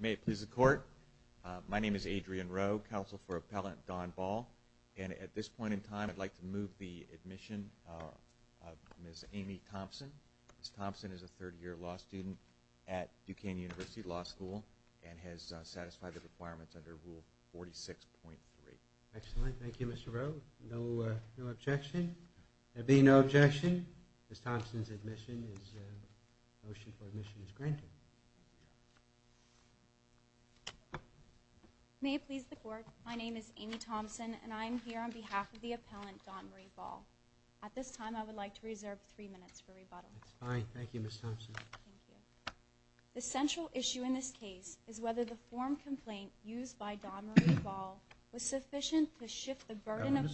May it please the court, my name is Adrian Rowe, counsel for Appellant Don Ball, and at this point in time I would like to move the admission of Ms. Amy Thompson. Ms. Thompson is a third year law student at Duquesne University Law School and has satisfied the requirements under Rule 46.3. Excellent, thank you Mr. Rowe. No objection? There being no objection, Ms. Thompson's admission is granted. May it please the court, my name is Amy Thompson, and I am here on behalf of the Appellant Don Ball. At this time I would like to reserve three minutes for rebuttal. That's fine, thank you Ms. Thompson. The central issue in this case is whether the form complaint used by Don Marie Ball was sufficient to shift the burden to her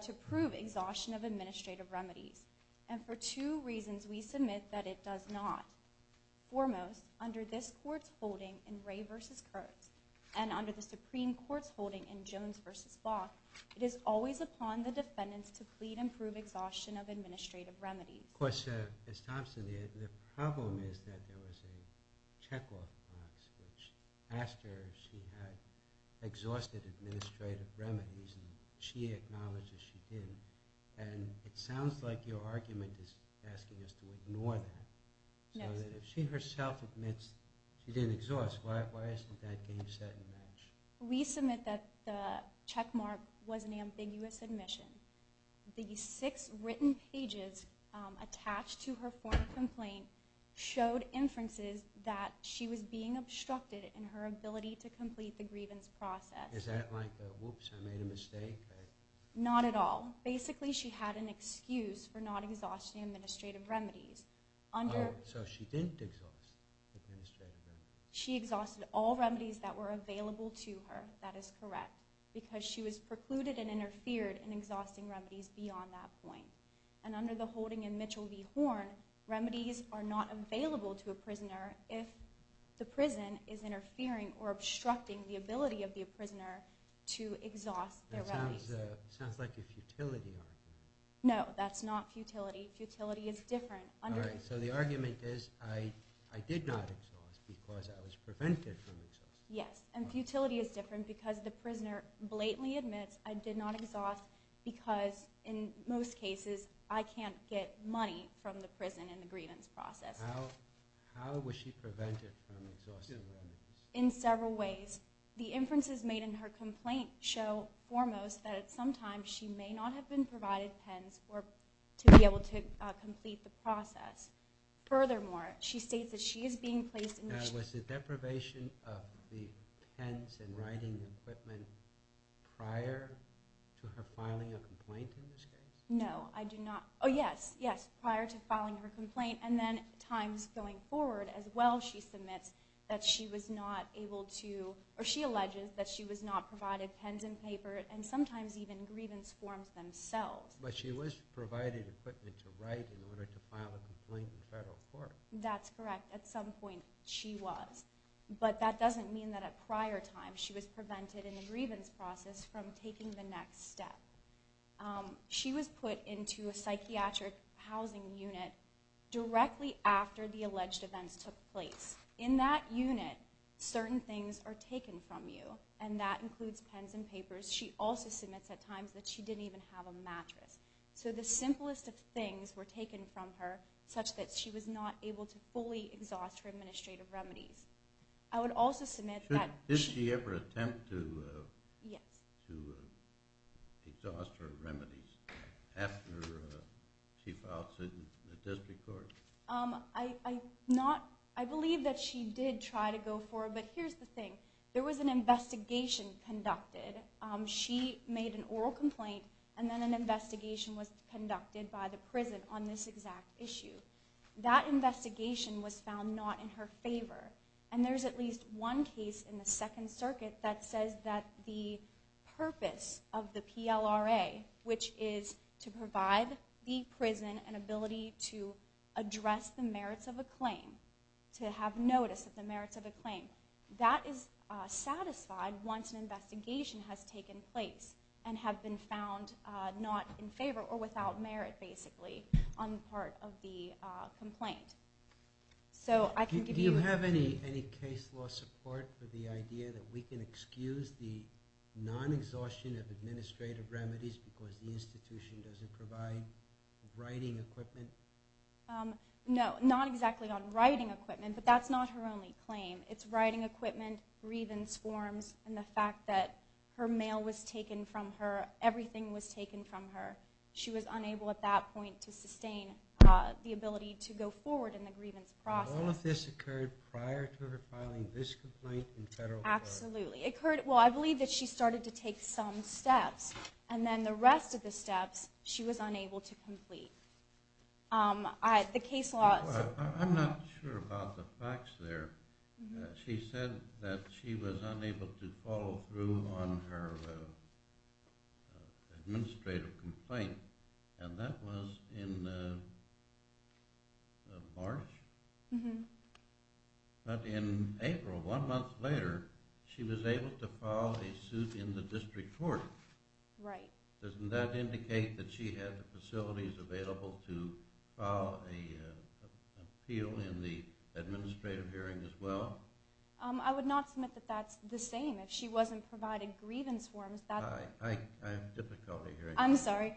to prove exhaustion of administrative remedies, and for two reasons we submit that it does not. Foremost, under this court's holding in Ray vs. Kurtz, and under the Supreme Court's holding in Jones vs. Block, it is always upon the defendants to plead and prove exhaustion of administrative remedies. Of course, Ms. Thompson, the problem is that there was a checkoff box which asked her if she had exhausted administrative remedies, and she acknowledged that she didn't, and it was an ambiguous admission. The six written pages attached to her form complaint showed inferences that she was being obstructed in her ability to complete the grievance process. Is that like a, whoops, I made a mistake? Not at all. Basically she had an excuse for not exhausting administrative remedies. She exhausted all remedies that were available to her, that is correct, because she was precluded and interfered in exhausting remedies beyond that point. And under the holding in Mitchell v. Horn, remedies are not available to a prisoner if the prison is interfering or obstructing the ability of the prisoner to exhaust their remedies. That sounds like a futility argument. No, that's not futility. Futility is different. So the argument is, I did not exhaust because I was prevented from exhausting. Yes, and futility is different because the prisoner blatantly admits, I did not exhaust because in most cases I can't get money from the prison in the grievance process. How was she prevented from exhausting remedies? In several ways. The inferences made in her complaint show foremost that at some time she may not have been provided pens to be able to write in the grievance process. Furthermore, she states that she is being placed in... Now, was the deprivation of the pens and writing equipment prior to her filing a complaint in this case? No, I do not. Oh yes, yes, prior to filing her complaint and then times going forward as well she submits that she was not able to, or she alleges that she was not provided pens and paper and sometimes even grievance forms themselves. But she was provided equipment to write in order to file a complaint in federal court. That's correct, at some point she was. But that doesn't mean that at prior times she was prevented in the grievance process from taking the next step. She was put into a psychiatric housing unit directly after the alleged events took place. In that unit, certain things are taken from you and that includes pens and papers. She also submits at times that she didn't even have a mattress. So the simplest of things were taken from her such that she was not able to fully exhaust her administrative remedies. I would also submit that... Did she ever attempt to exhaust her remedies after she filed suit in the district court? I believe that she did try to go for it, but here's the thing. There was an investigation conducted. She made an oral complaint and then an investigation was conducted by the prison on this exact issue. That investigation was found not in her favor and there's at least one case in the Second Circuit that says that the purpose of the PLRA, which is to provide the prison an ability to address the merits of a claim, to have notice of the merits of a claim, that is satisfied once an investigation has taken place and have been found not in favor or without merit basically on the part of the complaint. Do you have any case law support for the idea that we can excuse the non-exhaustion of administrative remedies because the institution doesn't provide writing equipment? No, not exactly on writing equipment, but that's not her only claim. It's writing equipment, grievance forms, and the fact that her mail was taken from her, everything was taken from her. She was unable at that point to sustain the ability to go forward in the grievance process. All of this occurred prior to her filing this complaint in federal court? Absolutely. Well, I believe that she started to take some steps and then the rest of the steps she was unable to complete. The case law... I'm not sure about the facts there. She said that she was unable to follow through on her administrative complaint and that was in March? But in April, one month later, she was able to file a suit in the district court. Doesn't that indicate that she had the facilities available to file an appeal in the administrative hearing as well? I would not submit that that's the same. If she wasn't provided grievance forms... I have difficulty hearing that. I'm sorry.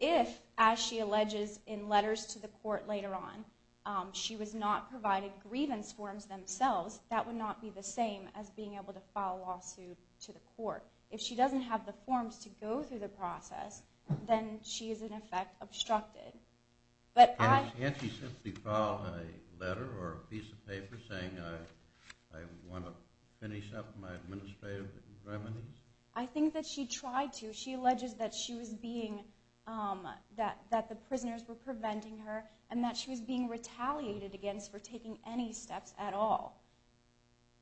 If, as she alleges in letters to the court later on, she was not provided grievance forms themselves, that would not be the same as being able to file a lawsuit to the court. If she doesn't have the forms to go through the process, then she is in effect obstructed. Can't she simply file a letter or a piece of paper saying, I want to finish up my administrative remedies? I think that she tried to. She alleges that the prisoners were preventing her and that she was being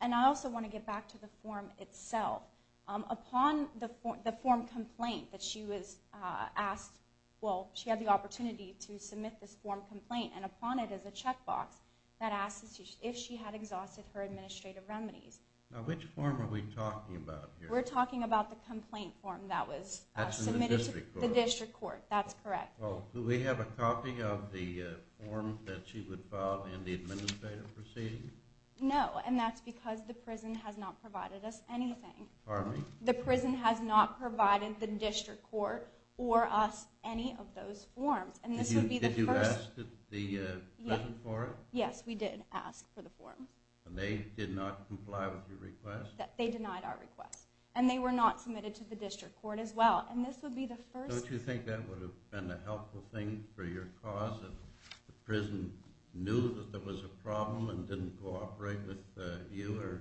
And I also want to get back to the form itself. Upon the form complaint that she was asked, well, she had the opportunity to submit this form complaint and upon it is a check box that asks if she had exhausted her administrative remedies. Now which form are we talking about? We're talking about the complaint form that was submitted to the district court. That's correct. Well, do we have a copy of the form that she would file in the administrative proceeding? No. And that's because the prison has not provided us anything. Pardon me? The prison has not provided the district court or us any of those forms. Did you ask the prison for it? Yes, we did ask for the form. And they did not comply with your request? They denied our request. And they were not submitted to the district court as well. Don't you think that would have been a helpful thing for your cause if the prison knew that there was a problem and didn't cooperate with you or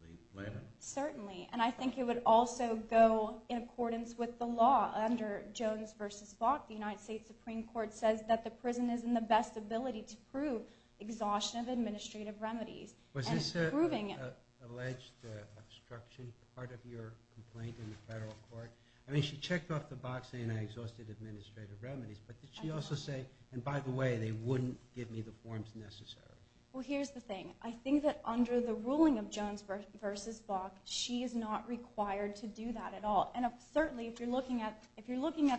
the plaintiff? Certainly. And I think it would also go in accordance with the law under Jones versus Bok. The United States Supreme Court says that the prison is in the best ability to prove exhaustion of administrative remedies. Was this alleged obstruction part of your complaint in the federal court? I mean, she checked off the box saying I exhausted administrative remedies. But did she also say, and by the way, they wouldn't give me the forms necessary? Well, here's the thing. I think that under the ruling of Jones versus Bok, she is not required to do that at all. And certainly, if you're looking at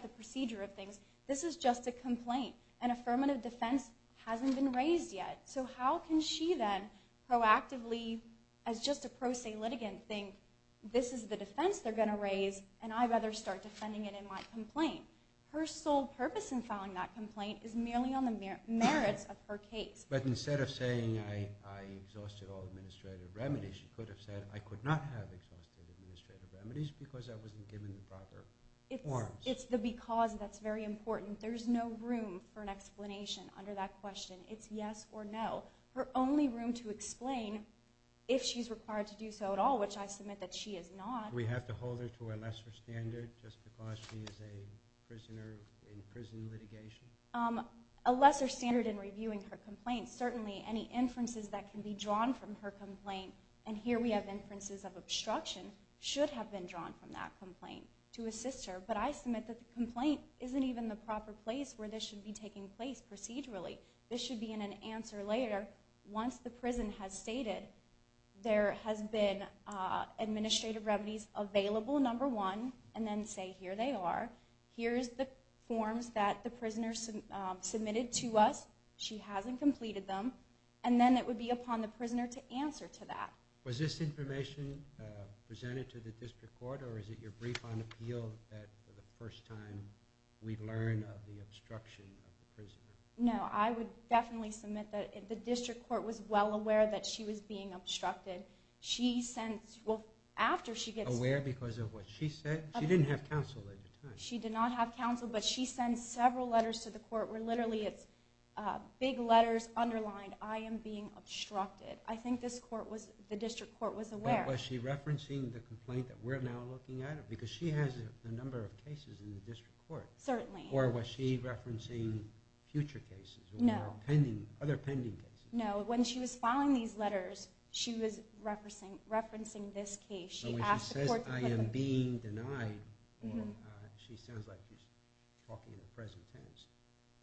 the procedure of things, this is just a complaint. An affirmative defense hasn't been raised yet. So how can she then proactively, as just a pro se litigant, think this is the defense they're going to raise, and I'd rather start defending it in my complaint? Her sole purpose in filing that complaint is merely on the merits of her case. But instead of saying I exhausted all administrative remedies, she could have said I could not have exhausted administrative remedies because I wasn't given the proper forms. It's the because that's very important. There's no room for an explanation under that question. It's yes or no. Her only room to explain, if she's required to do so at all, which I submit that she is not. We have to hold her to a lesser standard just because she is a prisoner in prison litigation? A lesser standard in reviewing her complaint. Certainly, any inferences that can be drawn from her complaint, and here we have inferences of obstruction, should have been drawn from that complaint to assist her. But I submit that the complaint isn't even the proper place where this should be taking place procedurally. This should be in an answer later. Once the available, number one, and then say here they are. Here's the forms that the prisoner submitted to us. She hasn't completed them. And then it would be upon the prisoner to answer to that. Was this information presented to the district court or is it your brief on appeal that for the first time we learn of the obstruction of the prisoner? No, I would definitely submit that the district court was well aware that she was being aware because of what she said. She didn't have counsel at the time. She did not have counsel, but she sent several letters to the court where literally it's big letters underlined, I am being obstructed. I think this court was, the district court was aware. Was she referencing the complaint that we're now looking at? Because she has a number of cases in the district court. Certainly. Or was she referencing future cases? No. Or pending, other pending cases? No, when she was filing these letters, she was referencing this case. So when she says, I am being denied, she sounds like she's talking in the present tense.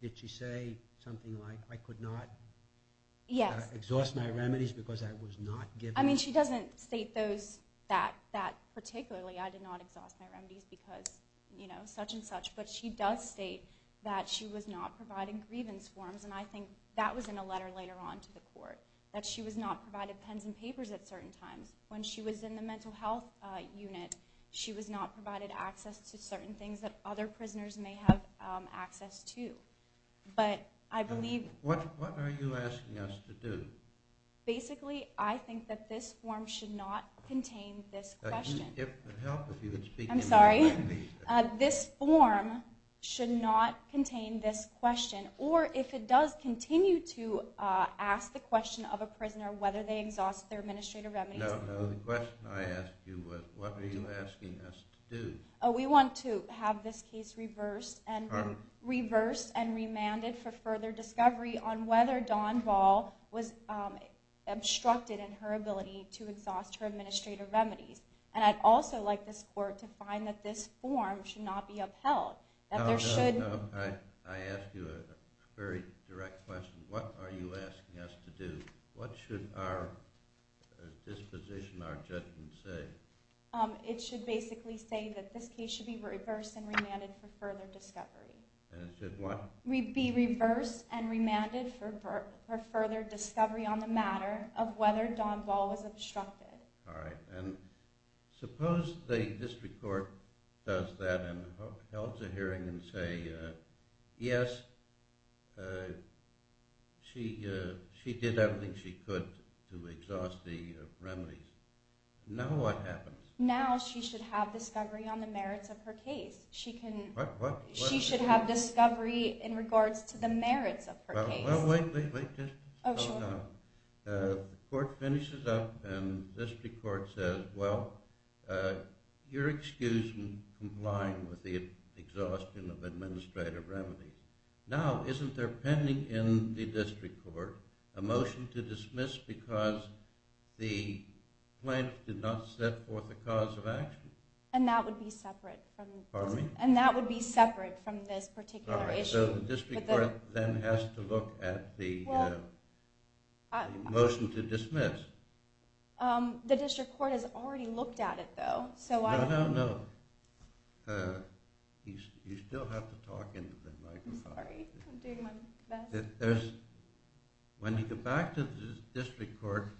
Did she say something like, I could not exhaust my remedies because I was not given? I mean, she doesn't state that particularly, I did not exhaust my remedies because such and such. But she does state that she was not providing grievance forms. And I think that was in a letter later on to the court, that she was not provided pens and papers at certain times. When she was in the mental health unit, she was not provided access to certain things that other prisoners may have access to. But I believe... What are you asking us to do? Basically, I think that this form should not contain this question. It would help if you would speak in my language. I'm sorry. This form should not contain this question. Or if it does, continue to ask the question. No, the question I asked you was, what are you asking us to do? We want to have this case reversed and remanded for further discovery on whether Dawn Ball was obstructed in her ability to exhaust her administrative remedies. And I'd also like this court to find that this form should not be upheld. No, I ask you a very direct question. What are you asking us to do? What should our disposition, our judgment say? It should basically say that this case should be reversed and remanded for further discovery. And it should what? Be reversed and remanded for further discovery on the matter of whether Dawn Ball was obstructed. All right. And suppose the district court does that and holds a hearing and say, yes, she did everything she could to exhaust the remedies. Now what happens? Now she should have discovery on the merits of her case. What, what, what? She should have discovery in regards to the merits of her case. Well, wait, wait, wait, just hold on. The court finishes up and the district court says, well, you're excused in complying with the exhaustion of administrative remedies. Now, isn't there pending in the district court a motion to dismiss because the plaintiff did not set forth a cause of action? And that would be separate from this particular issue. So the district court then has to look at the motion to dismiss. Um, the district court has already looked at it though. No, no, no. You still have to talk into the microphone. Sorry, I'm doing my best. When you go back to the district court,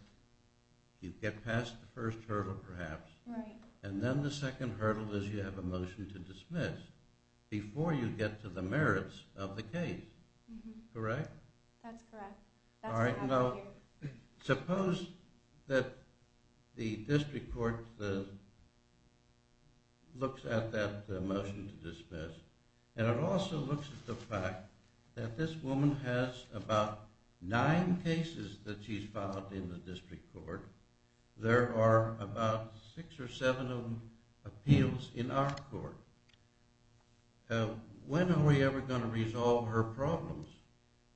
you get past the first hurdle perhaps. Right. And then the second hurdle is you have a motion to dismiss before you get to the merits of the case. Correct? That's correct. All right. Now, suppose that the district court looks at that motion to dismiss. And it also looks at the fact that this woman has about nine cases that she's filed in the district court. There are about six or seven of them appeals in our court. When are we ever going to resolve her problems?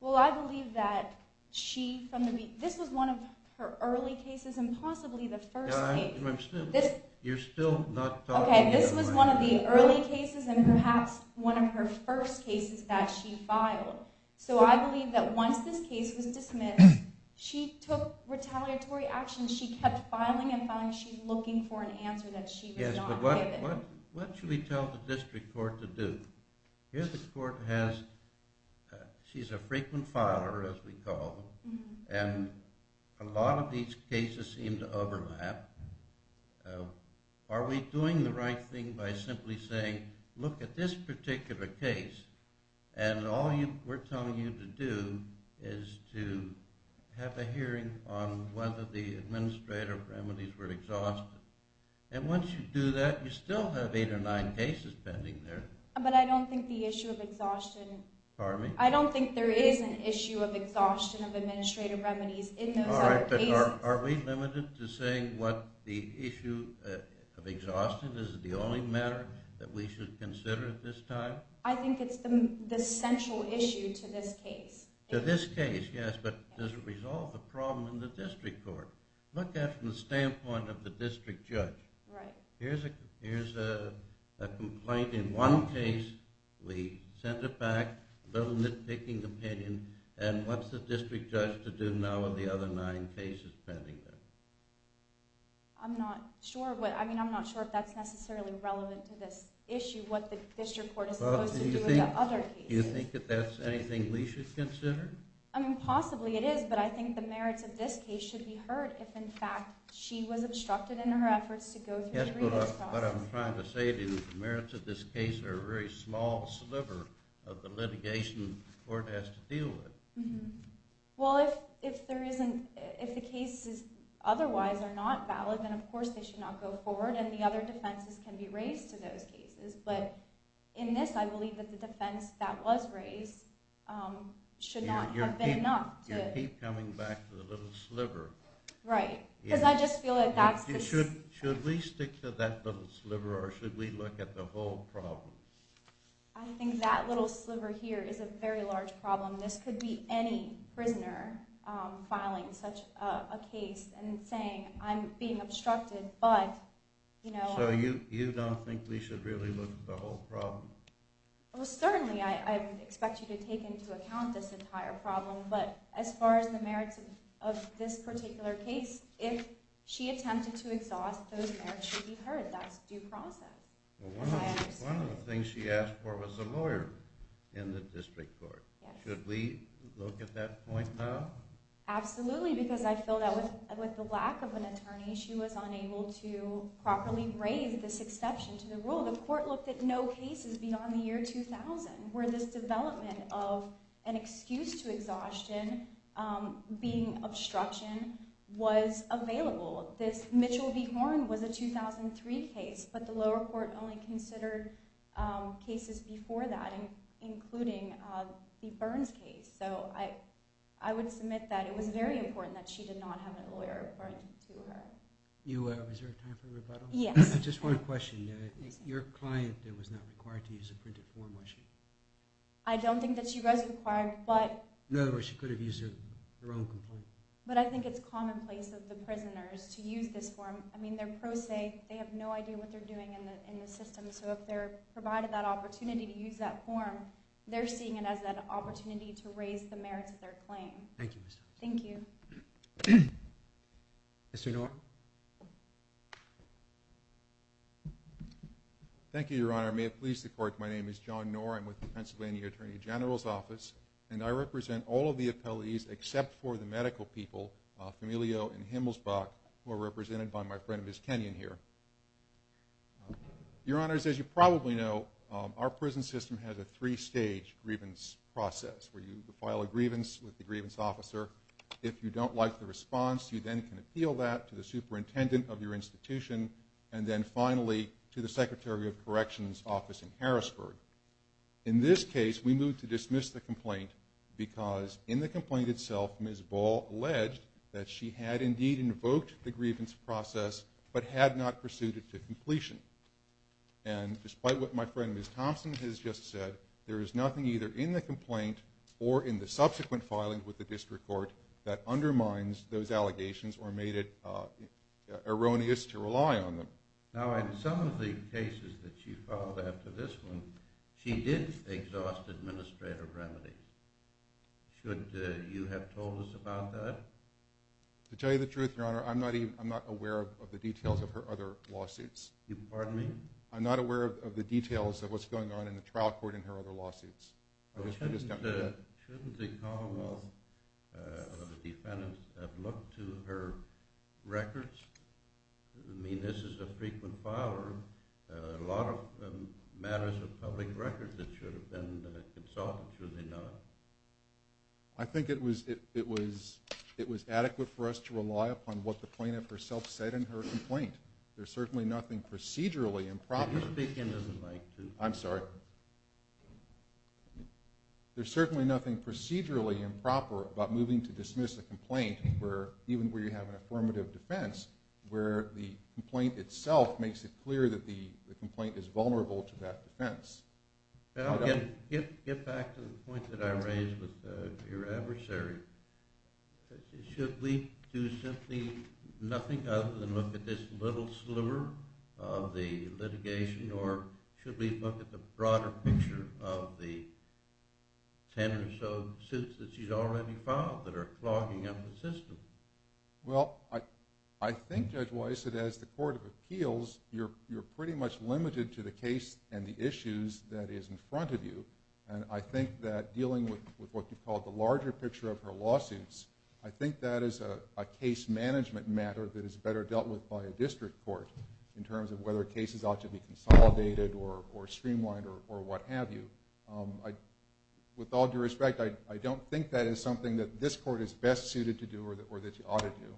Well, I believe that she, this was one of her early cases and possibly the first. You're still not talking. Okay, this was one of the early cases and perhaps one of her first cases that she filed. So I believe that once this case was dismissed, she took retaliatory action. She kept filing and filing. She's looking for an answer that she was not given. What should we tell the district court to do? Here the court has, she's a frequent filer, as we call them. And a lot of these cases seem to overlap. Are we doing the right thing by simply saying, look at this particular case, and all we're telling you to do is to have a hearing on whether the administrator remedies were exhausted. And once you do that, you still have eight or nine cases pending there. But I don't think the issue of exhaustion... Pardon me? I don't think there is an issue of exhaustion of administrative remedies in those other cases. Are we limited to saying what the issue of exhaustion is the only matter that we should consider at this time? I think it's the central issue to this case. To this case, yes. But does it resolve the problem in the district court? Look at it from the standpoint of the district judge. Right. Here's a complaint in one case. We sent it back, a little nitpicking opinion. And what's the district judge to do now with the other nine cases pending there? I'm not sure. I mean, I'm not sure if that's necessarily relevant to this issue, what the district court is supposed to do with the other cases. Do you think that that's anything we should consider? I mean, possibly it is. But I think the merits of this case should be heard if, in fact, she was obstructed in her efforts to go through the review. But I'm trying to say the merits of this case are a very small sliver of the litigation the court has to deal with. Well, if the cases otherwise are not valid, then of course they should not go forward. And the other defenses can be raised to those cases. But in this, I believe that the defense that was raised should not have been enough. You keep coming back to the little sliver. Right. Because I just feel that that's the... Should we stick to that little sliver, or should we look at the whole problem? I think that little sliver here is a very large problem. This could be any prisoner filing such a case and saying, I'm being obstructed, but, you know... So you don't think we should really look at the whole problem? Well, certainly I would expect you to take into account this entire problem. But as far as the merits of this particular case, if she attempted to exhaust, those merits should be heard. That's due process. One of the things she asked for was a lawyer in the district court. Should we look at that point now? Absolutely, because I feel that with the lack of an attorney, she was unable to properly raise this exception to the rule. The court looked at no cases beyond the year 2000 where this development of an excuse to exhaustion being obstruction was available. This Mitchell v. Horn was a 2003 case, but the lower court only considered cases before that, including the Burns case. So I would submit that it was very important that she did not have a lawyer appointed to her. Is there time for rebuttal? Yes. Just one question. Your client was not required to use a printed form, was she? I don't think that she was required, but... In other words, she could have used her own complaint. But I think it's commonplace of the prisoners to use this form. I mean, they're pro se. They have no idea what they're doing in the system. So if they're provided that opportunity to use that form, they're seeing it as an opportunity to raise the merits of their claim. Thank you, Ms. Thompson. Thank you. Mr. Norton. Thank you, Your Honor. May it please the court, my name is John Norton. I'm with the Pennsylvania Attorney General's Office, and I represent all of the appellees except for the medical people, Familio and Himmelsbach, who are represented by my friend, Ms. Kenyon, here. Your Honor, as you probably know, our prison system has a three-stage grievance process, where you file a grievance with the grievance officer. If you don't like the response, you then can appeal that to the superintendent of your institution, and then finally to the Secretary of Corrections' office in Harrisburg. In this case, we move to dismiss the complaint, because in the complaint itself, Ms. Ball alleged that she had indeed invoked the grievance process, but had not pursued it to completion. And despite what my friend, Ms. Thompson, has just said, there is nothing either in the complaint or in the subsequent filing with the district court that undermines those allegations or made it erroneous to rely on them. Now, in some of the cases that she filed after this one, she did exhaust administrative remedies. Should you have told us about that? To tell you the truth, Your Honor, I'm not aware of the details of her other lawsuits. You pardon me? I'm not aware of the details of what's going on in the trial court in her other lawsuits. Shouldn't the Commonwealth of the Defendants have looked to her records? I mean, this is a frequent filer. A lot of matters of public records that should have been consulted, should they not? I think it was adequate for us to rely upon what the plaintiff herself said in her complaint. There's certainly nothing procedurally improper. Would you speak into the mic, too? I'm sorry. Even where you have an affirmative defense, where the complaint itself makes it clear that the complaint is vulnerable to that defense. Get back to the point that I raised with your adversary. Should we do simply nothing other than look at this little sliver of the litigation, or should we look at the broader picture of the 10 or so suits that she's already filed that are clogging up the system? Well, I think, Judge Weiss, that as the Court of Appeals, you're pretty much limited to the case and the issues that is in front of you. And I think that dealing with what you call the larger picture of her lawsuits, I think that is a case management matter that is better dealt with by a district court in terms of whether cases ought to be consolidated or streamlined or what have you. I, with all due respect, I don't think that is something that this court is best suited to do or that you ought to do.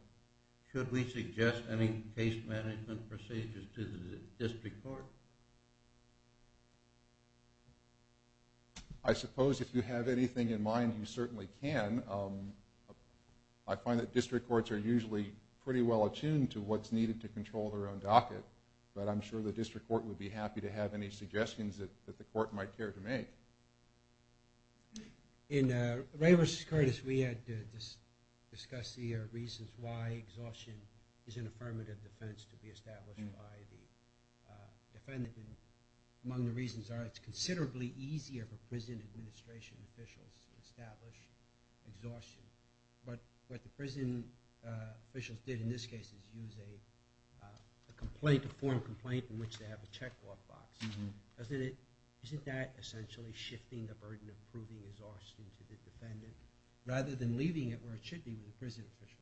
Should we suggest any case management procedures to the district court? I suppose if you have anything in mind, you certainly can. I find that district courts are usually pretty well attuned to what's needed to control their own docket, but I'm sure the district court would be happy to have any suggestions that the court might care to make. In Ray versus Curtis, we had discussed the reasons why exhaustion is an affirmative defense to be established by the defendant. And among the reasons are it's considerably easier for prison administration officials to establish exhaustion. But what the prison officials did in this case is use a complaint, a formal complaint, in which they have a checkbox. Doesn't it, isn't that essentially shifting the burden of proving exhaustion to the defendant rather than leaving it where it should be with the prison officials?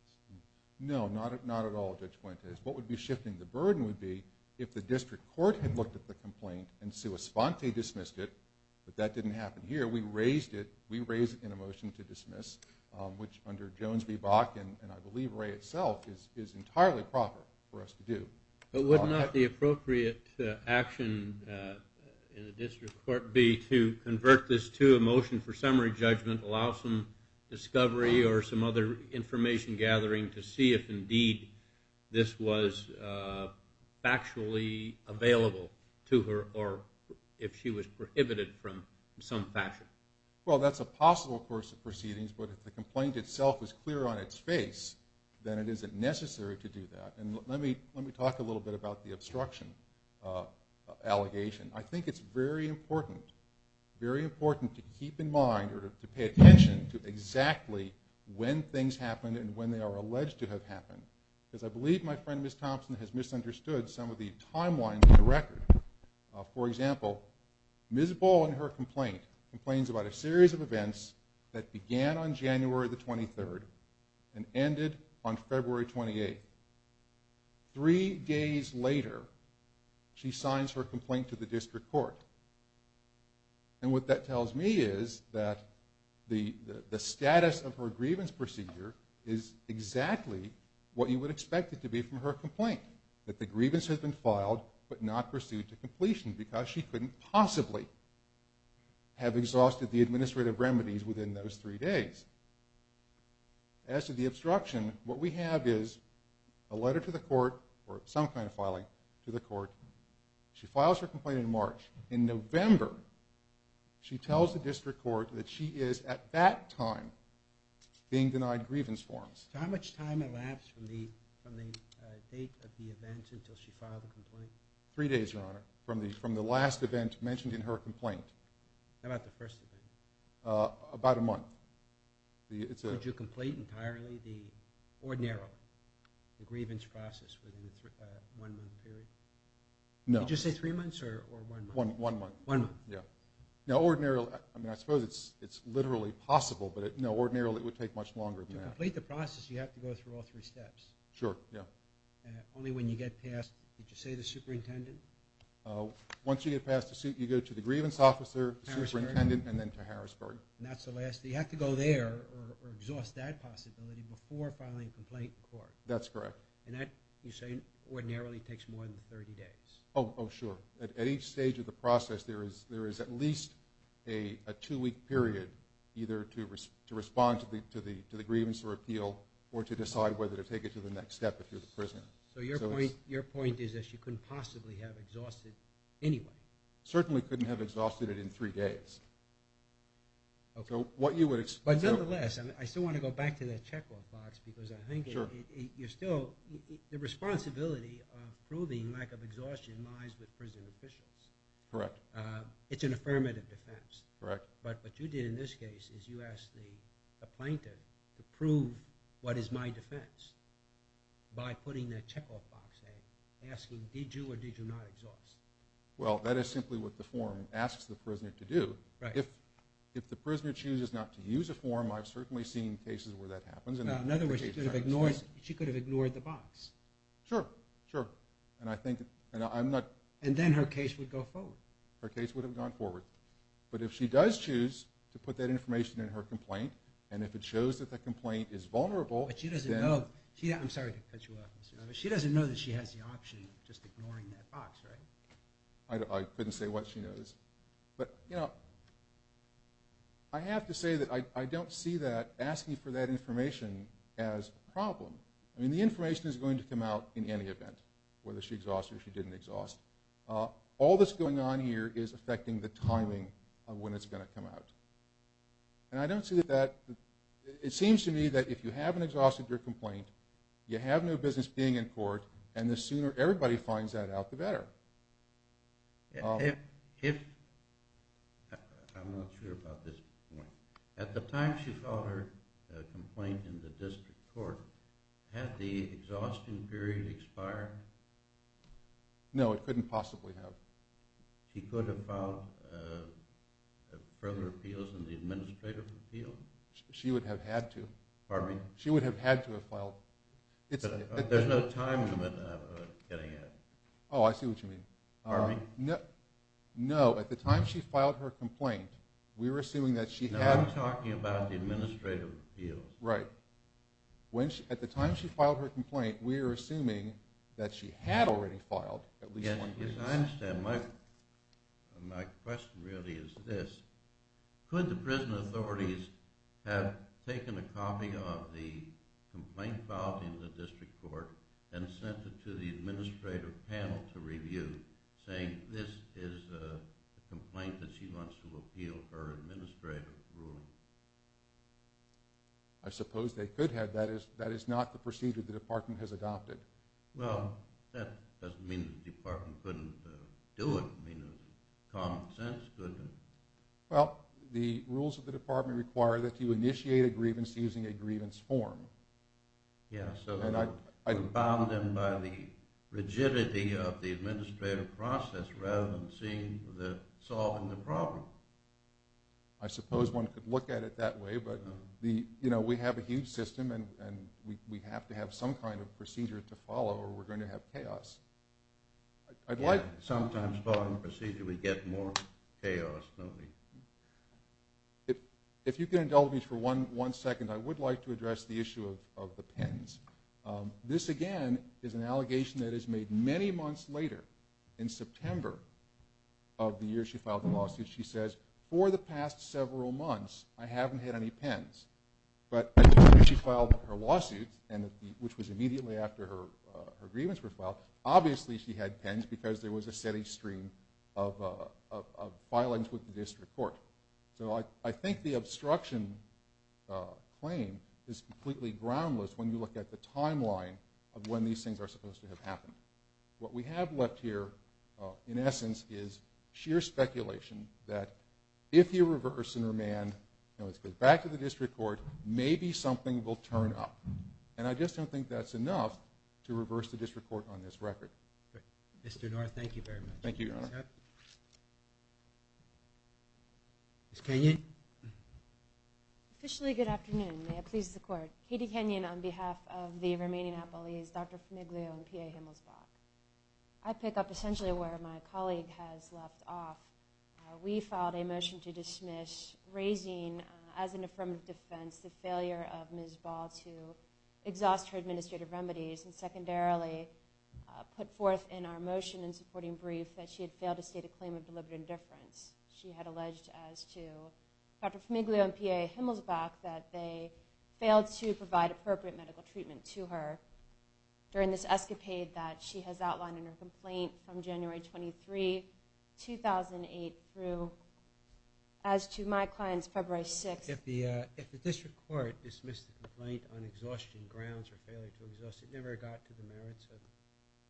No, not at all, Judge Fuentes. What would be shifting the burden would be if the district court had looked at the complaint and sua sponte dismissed it, but that didn't happen here. We raised it. We raised it in a motion to dismiss, which under Jones v. Bach and I believe Ray itself is entirely proper for us to do. But would not the appropriate action in the district court be to convert this to a motion for summary judgment, allow some discovery or some other information gathering to see if indeed this was factually available to her or if she was prohibited from some fashion? Well, that's a possible course of proceedings, but if the complaint itself is clear on its face, then it isn't necessary to do that. Let me talk a little bit about the obstruction allegation. I think it's very important, very important to keep in mind or to pay attention to exactly when things happen and when they are alleged to have happened, because I believe my friend Ms. Thompson has misunderstood some of the timelines in the record. For example, Ms. Ball in her complaint complains about a series of events that began on January the 23rd and ended on February 28th. Three days later, she signs her complaint to the district court. And what that tells me is that the status of her grievance procedure is exactly what you would expect it to be from her complaint, that the grievance has been filed but not pursued to completion because she couldn't possibly have exhausted the administrative remedies within those three days. As to the obstruction, what we have is a letter to the court or some kind of filing to the court. She files her complaint in March. In November, she tells the district court that she is at that time being denied grievance forms. How much time elapsed from the date of the event until she filed the complaint? Three days, Your Honor, from the last event mentioned in her complaint. How about the first event? About a month. Could you complete entirely, ordinarily, the grievance process within a one-month period? No. Did you say three months or one month? One month. One month. Yeah. Now, ordinarily, I mean, I suppose it's literally possible, but no, ordinarily, it would take much longer than that. To complete the process, you have to go through all three steps. Sure, yeah. Only when you get past, did you say the superintendent? Once you get past, you go to the grievance officer, the superintendent, and then to Harrisburg. And that's the last. You have to go there or exhaust that possibility before filing a complaint in court. That's correct. And that, you're saying, ordinarily takes more than 30 days? Oh, sure. At each stage of the process, there is at least a two-week period either to respond to the grievance or appeal or to decide whether to take it to the next step if you're the prisoner. So your point is that she couldn't possibly have exhausted it anyway? Certainly couldn't have exhausted it in three days. So what you would expect. But nonetheless, I still want to go back to that checkoff box because I think you're still, the responsibility of proving lack of exhaustion lies with prison officials. Correct. It's an affirmative defense. Correct. But what you did in this case is you asked the plaintiff to prove what is my defense by putting that checkoff box in, asking, did you or did you not exhaust? Well, that is simply what the form asks the prisoner to do. If the prisoner chooses not to use a form, I've certainly seen cases where that happens. In other words, she could have ignored the box. Sure, sure. And I think, and I'm not. And then her case would go forward. Her case would have gone forward. But if she does choose to put that information in her complaint, and if it shows that the complaint is vulnerable. But she doesn't know. I'm sorry to cut you off. She doesn't know that she has the option of just ignoring that box, right? I couldn't say what she knows. But, you know, I have to say that I don't see that asking for that information as a problem. I mean, the information is going to come out in any event, whether she exhausts or she didn't exhaust. All that's going on here is affecting the timing of when it's going to come out. And I don't see that. It seems to me that if you haven't exhausted your complaint, you have no business being in court. And the sooner everybody finds that out, the better. If I'm not sure about this point. At the time she filed her complaint in the district court, had the exhaustion period expired? No, it couldn't possibly have. She could have filed further appeals in the administrative appeal? She would have had to. Pardon me? She would have had to have filed. There's no time limit on getting it. Oh, I see what you mean. Pardon me? No, at the time she filed her complaint, we're assuming that she had. No, I'm talking about the administrative appeals. Right. At the time she filed her complaint, we're assuming that she had already filed at least one case. Yes, I understand. My question really is this. Could the prison authorities have taken a copy of the complaint filed in the district court and sent it to the administrative panel to review, saying this is a complaint that she wants to appeal her administrative rule? I suppose they could have. That is not the procedure the department has adopted. Well, that doesn't mean the department couldn't do it. I mean, common sense couldn't. Well, the rules of the department require that you initiate a grievance using a grievance form. Yeah, so compounded by the rigidity of the administrative process rather than solving the problem. I suppose one could look at it that way, but we have a huge system and we have to have some kind of procedure to follow or we're going to have chaos. I'd like— Sometimes following procedure, we get more chaos, don't we? If you can indulge me for one second, I would like to address the issue of the pens. This, again, is an allegation that is made many months later. In September of the year she filed the lawsuit, she says, for the past several months, I haven't had any pens. But she filed her lawsuit, which was immediately after her grievance was filed. Obviously, she had pens because there was a steady stream of violence with the district court. So I think the obstruction claim is completely groundless when you look at the timeline of when these things are supposed to have happened. What we have left here, in essence, is sheer speculation that if you reverse and remand, now let's go back to the district court, maybe something will turn up. And I just don't think that's enough to reverse the district court on this record. Thank you, Your Honor. Ms. Kenyon? Officially, good afternoon. May it please the court. Katie Kenyon on behalf of the remaining appellees, Dr. Fumiglio and PA Himmelsbach. I pick up essentially where my colleague has left off. We filed a motion to dismiss, raising as an affirmative defense the failure of Ms. Ball to exhaust her administrative remedies and secondarily put forth in our motion in supporting brief that she had failed to state a claim of deliberate indifference. She had alleged as to Dr. Fumiglio and PA Himmelsbach that they failed to provide appropriate medical treatment to her during this escapade that she has outlined in her complaint from January 23, 2008 through as to my client's February 6th. If the district court dismissed the complaint on exhaustion grounds or failure to exhaust, it never got to the merits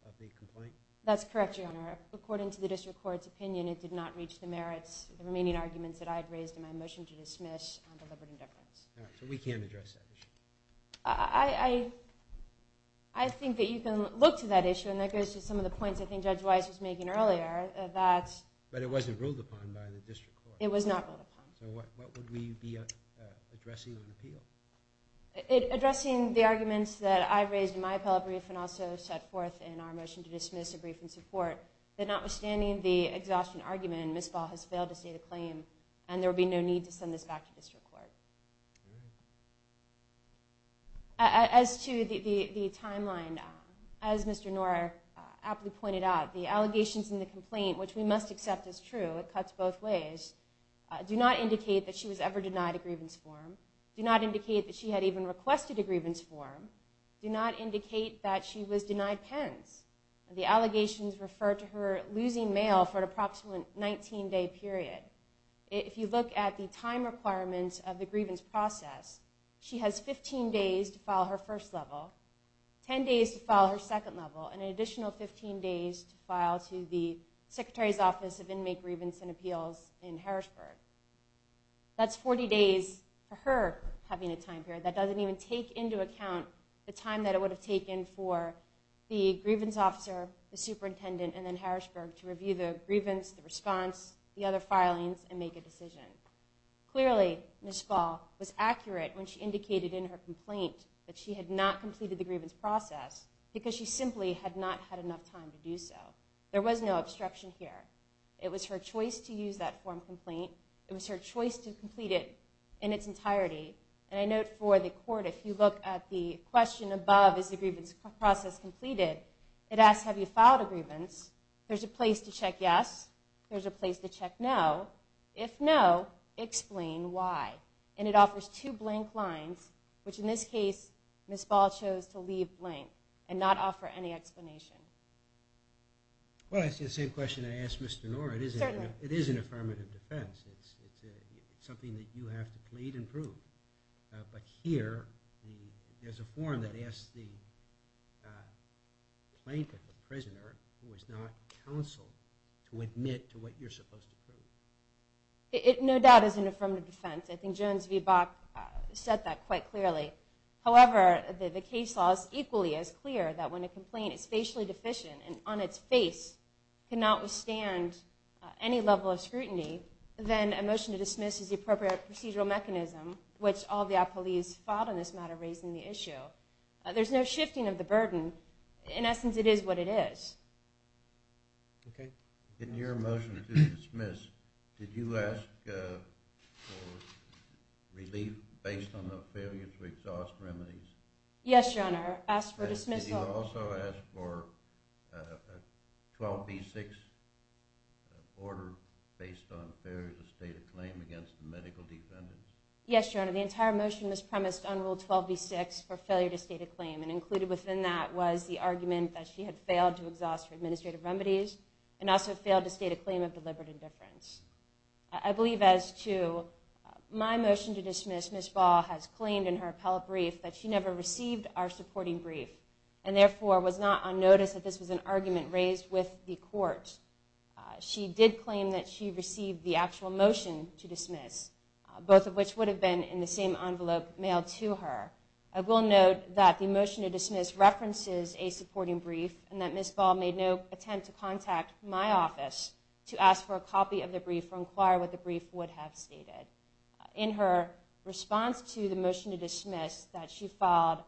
of the complaint? That's correct, Your Honor. According to the district court's opinion, it did not reach the merits of the remaining arguments that I had raised in my motion to dismiss on deliberate indifference. All right. So we can't address that issue? I think that you can look to that issue and that goes to some of the points I think Judge Weiss was making earlier. But it wasn't ruled upon by the district court? It was not ruled upon. So what would we be addressing on appeal? Addressing the arguments that I raised in my appellate brief and also set forth in our notwithstanding the exhaustion argument, Ms. Ball has failed to state a claim and there will be no need to send this back to district court. As to the timeline, as Mr. Norah aptly pointed out, the allegations in the complaint, which we must accept as true, it cuts both ways, do not indicate that she was ever denied a grievance form, do not indicate that she had even requested a grievance form, do not indicate that she was denied pens. The allegations refer to her losing mail for an approximate 19-day period. If you look at the time requirements of the grievance process, she has 15 days to file her first level, 10 days to file her second level, and an additional 15 days to file to the Secretary's Office of Inmate Grievance and Appeals in Harrisburg. That's 40 days for her having a time period. That doesn't even take into account the time that it would have taken for the grievance officer, the superintendent, and then Harrisburg to review the grievance, the response, the other filings, and make a decision. Clearly, Ms. Ball was accurate when she indicated in her complaint that she had not completed the grievance process because she simply had not had enough time to do so. There was no obstruction here. It was her choice to use that form complaint. It was her choice to complete it in its entirety, and I note for the court, if you look at the It asks, have you filed a grievance? There's a place to check yes. There's a place to check no. If no, explain why. And it offers two blank lines, which in this case, Ms. Ball chose to leave blank and not offer any explanation. Well, it's the same question I asked Mr. Noor. It is an affirmative defense. It's something that you have to plead and prove. But here, there's a form that asks the plaintiff, the prisoner, who is not counsel, to admit to what you're supposed to prove. No doubt it's an affirmative defense. I think Jones v. Bach said that quite clearly. However, the case law is equally as clear that when a complaint is facially deficient and on its face cannot withstand any level of scrutiny, then a motion to dismiss is the appropriate procedural mechanism, which all the appellees filed in this matter raising the issue. There's no shifting of the burden. In essence, it is what it is. OK. In your motion to dismiss, did you ask for relief based on the failure to exhaust remedies? Yes, Your Honor. I asked for dismissal. I also asked for a 12B6 order based on failure to state a claim against the medical defendants. Yes, Your Honor. The entire motion was premised on Rule 12B6 for failure to state a claim. And included within that was the argument that she had failed to exhaust her administrative remedies and also failed to state a claim of deliberate indifference. I believe as to my motion to dismiss, Ms. Bach has claimed in her appellate brief that she never received our supporting brief. And therefore, was not on notice that this was an argument raised with the court. She did claim that she received the actual motion to dismiss, both of which would have been in the same envelope mailed to her. I will note that the motion to dismiss references a supporting brief and that Ms. Ball made no attempt to contact my office to ask for a copy of the brief or inquire what the brief would have stated. In her response to the motion to dismiss that she filed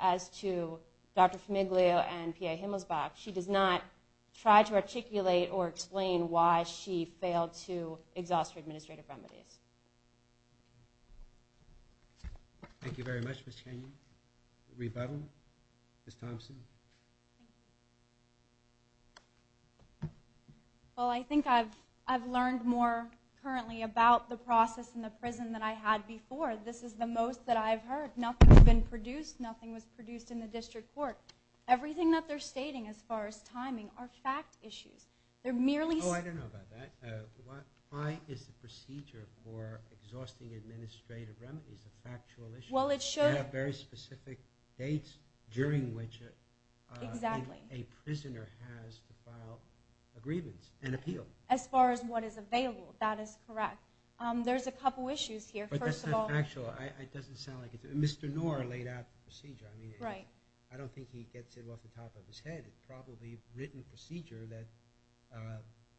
as to Dr. Famiglio and PA Himmelsbach, she does not try to articulate or explain why she failed to exhaust her administrative remedies. Thank you very much, Ms. Chaney. Rebuttal, Ms. Thompson. Well, I think I've learned more currently about the process in the prison that I had before. This is the most that I've heard. Nothing has been produced. Nothing was produced in the district court. Everything that they're stating as far as timing are fact issues. They're merely... Oh, I don't know about that. Why is the procedure for exhausting administrative remedies a factual issue? Well, it should... Have very specific dates during which a prisoner has to file a grievance and appeal. As far as what is available. That is correct. There's a couple issues here. But that's not factual. It doesn't sound like it's... Mr. Knorr laid out the procedure. I mean, I don't think he gets it off the top of his head. It's probably a written procedure that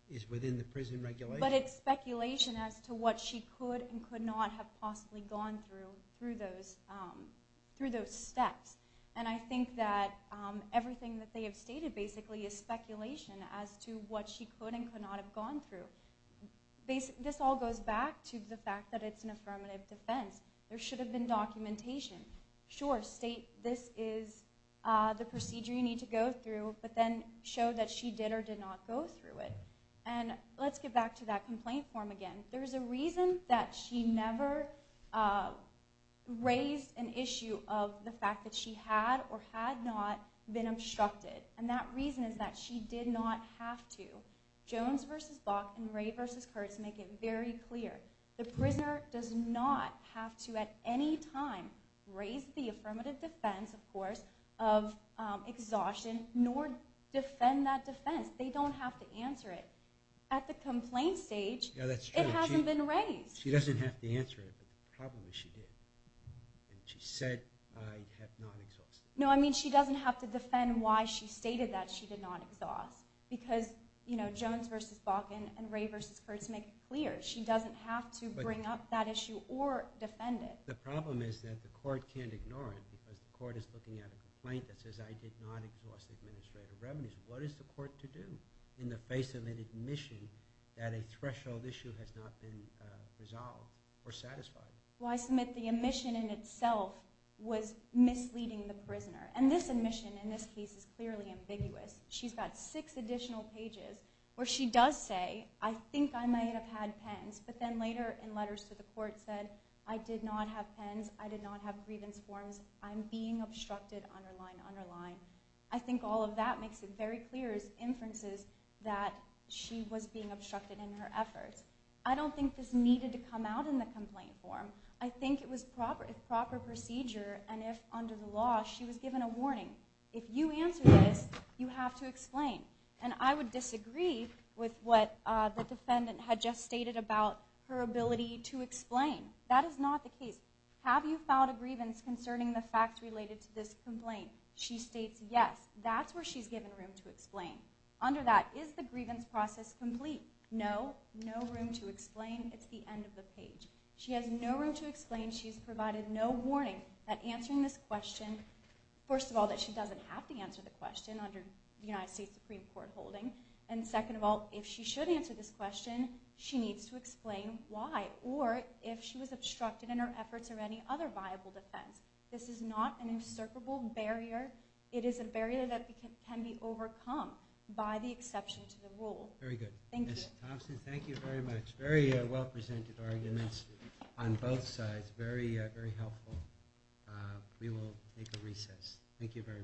is within the prison regulation. But it's speculation as to what she could and could not have possibly gone through through those steps. And I think that everything that they have stated basically is speculation as to what she could and could not have gone through. This all goes back to the fact that it's an affirmative defense. There should have been documentation. Sure, state this is the procedure you need to go through, but then show that she did or did not go through it. And let's get back to that complaint form again. There's a reason that she never raised an issue of the fact that she had or had not been obstructed. And that reason is that she did not have to. Jones versus Bach and Ray versus Kurtz make it very clear. The prisoner does not have to at any time raise the affirmative defense, of course, of exhaustion nor defend that defense. They don't have to answer it. At the complaint stage... Yeah, that's true. But it hasn't been raised. She doesn't have to answer it, but the problem is she did. And she said, I have not exhausted it. No, I mean, she doesn't have to defend why she stated that she did not exhaust. Because, you know, Jones versus Bach and Ray versus Kurtz make it clear. She doesn't have to bring up that issue or defend it. The problem is that the court can't ignore it because the court is looking at a complaint that says, I did not exhaust administrative revenues. What is the court to do in the face of an admission that a threshold issue has not been resolved or satisfied? Well, I submit the admission in itself was misleading the prisoner. And this admission in this case is clearly ambiguous. She's got six additional pages where she does say, I think I might have had pens, but then later in letters to the court said, I did not have pens. I did not have grievance forms. I'm being obstructed, underline, underline. I think all of that makes it very clear as inferences that she was being obstructed in her efforts. I don't think this needed to come out in the complaint form. I think it was proper procedure. And if under the law, she was given a warning. If you answer this, you have to explain. And I would disagree with what the defendant had just stated about her ability to explain. That is not the case. Have you filed a grievance concerning the facts related to this complaint? She states, yes. That's where she's given room to explain. Under that, is the grievance process complete? No. No room to explain. It's the end of the page. She has no room to explain. She's provided no warning at answering this question. First of all, that she doesn't have to answer the question under the United States Supreme Court holding. And second of all, if she should answer this question, she needs to explain why. Or if she was obstructed in her efforts or any other viable defense. This is not an insurmountable barrier. It is a barrier that can be overcome. By the exception to the rule. Very good. Thank you. Thompson, thank you very much. Very well presented arguments on both sides. Very, very helpful. We will make a recess. Thank you very much.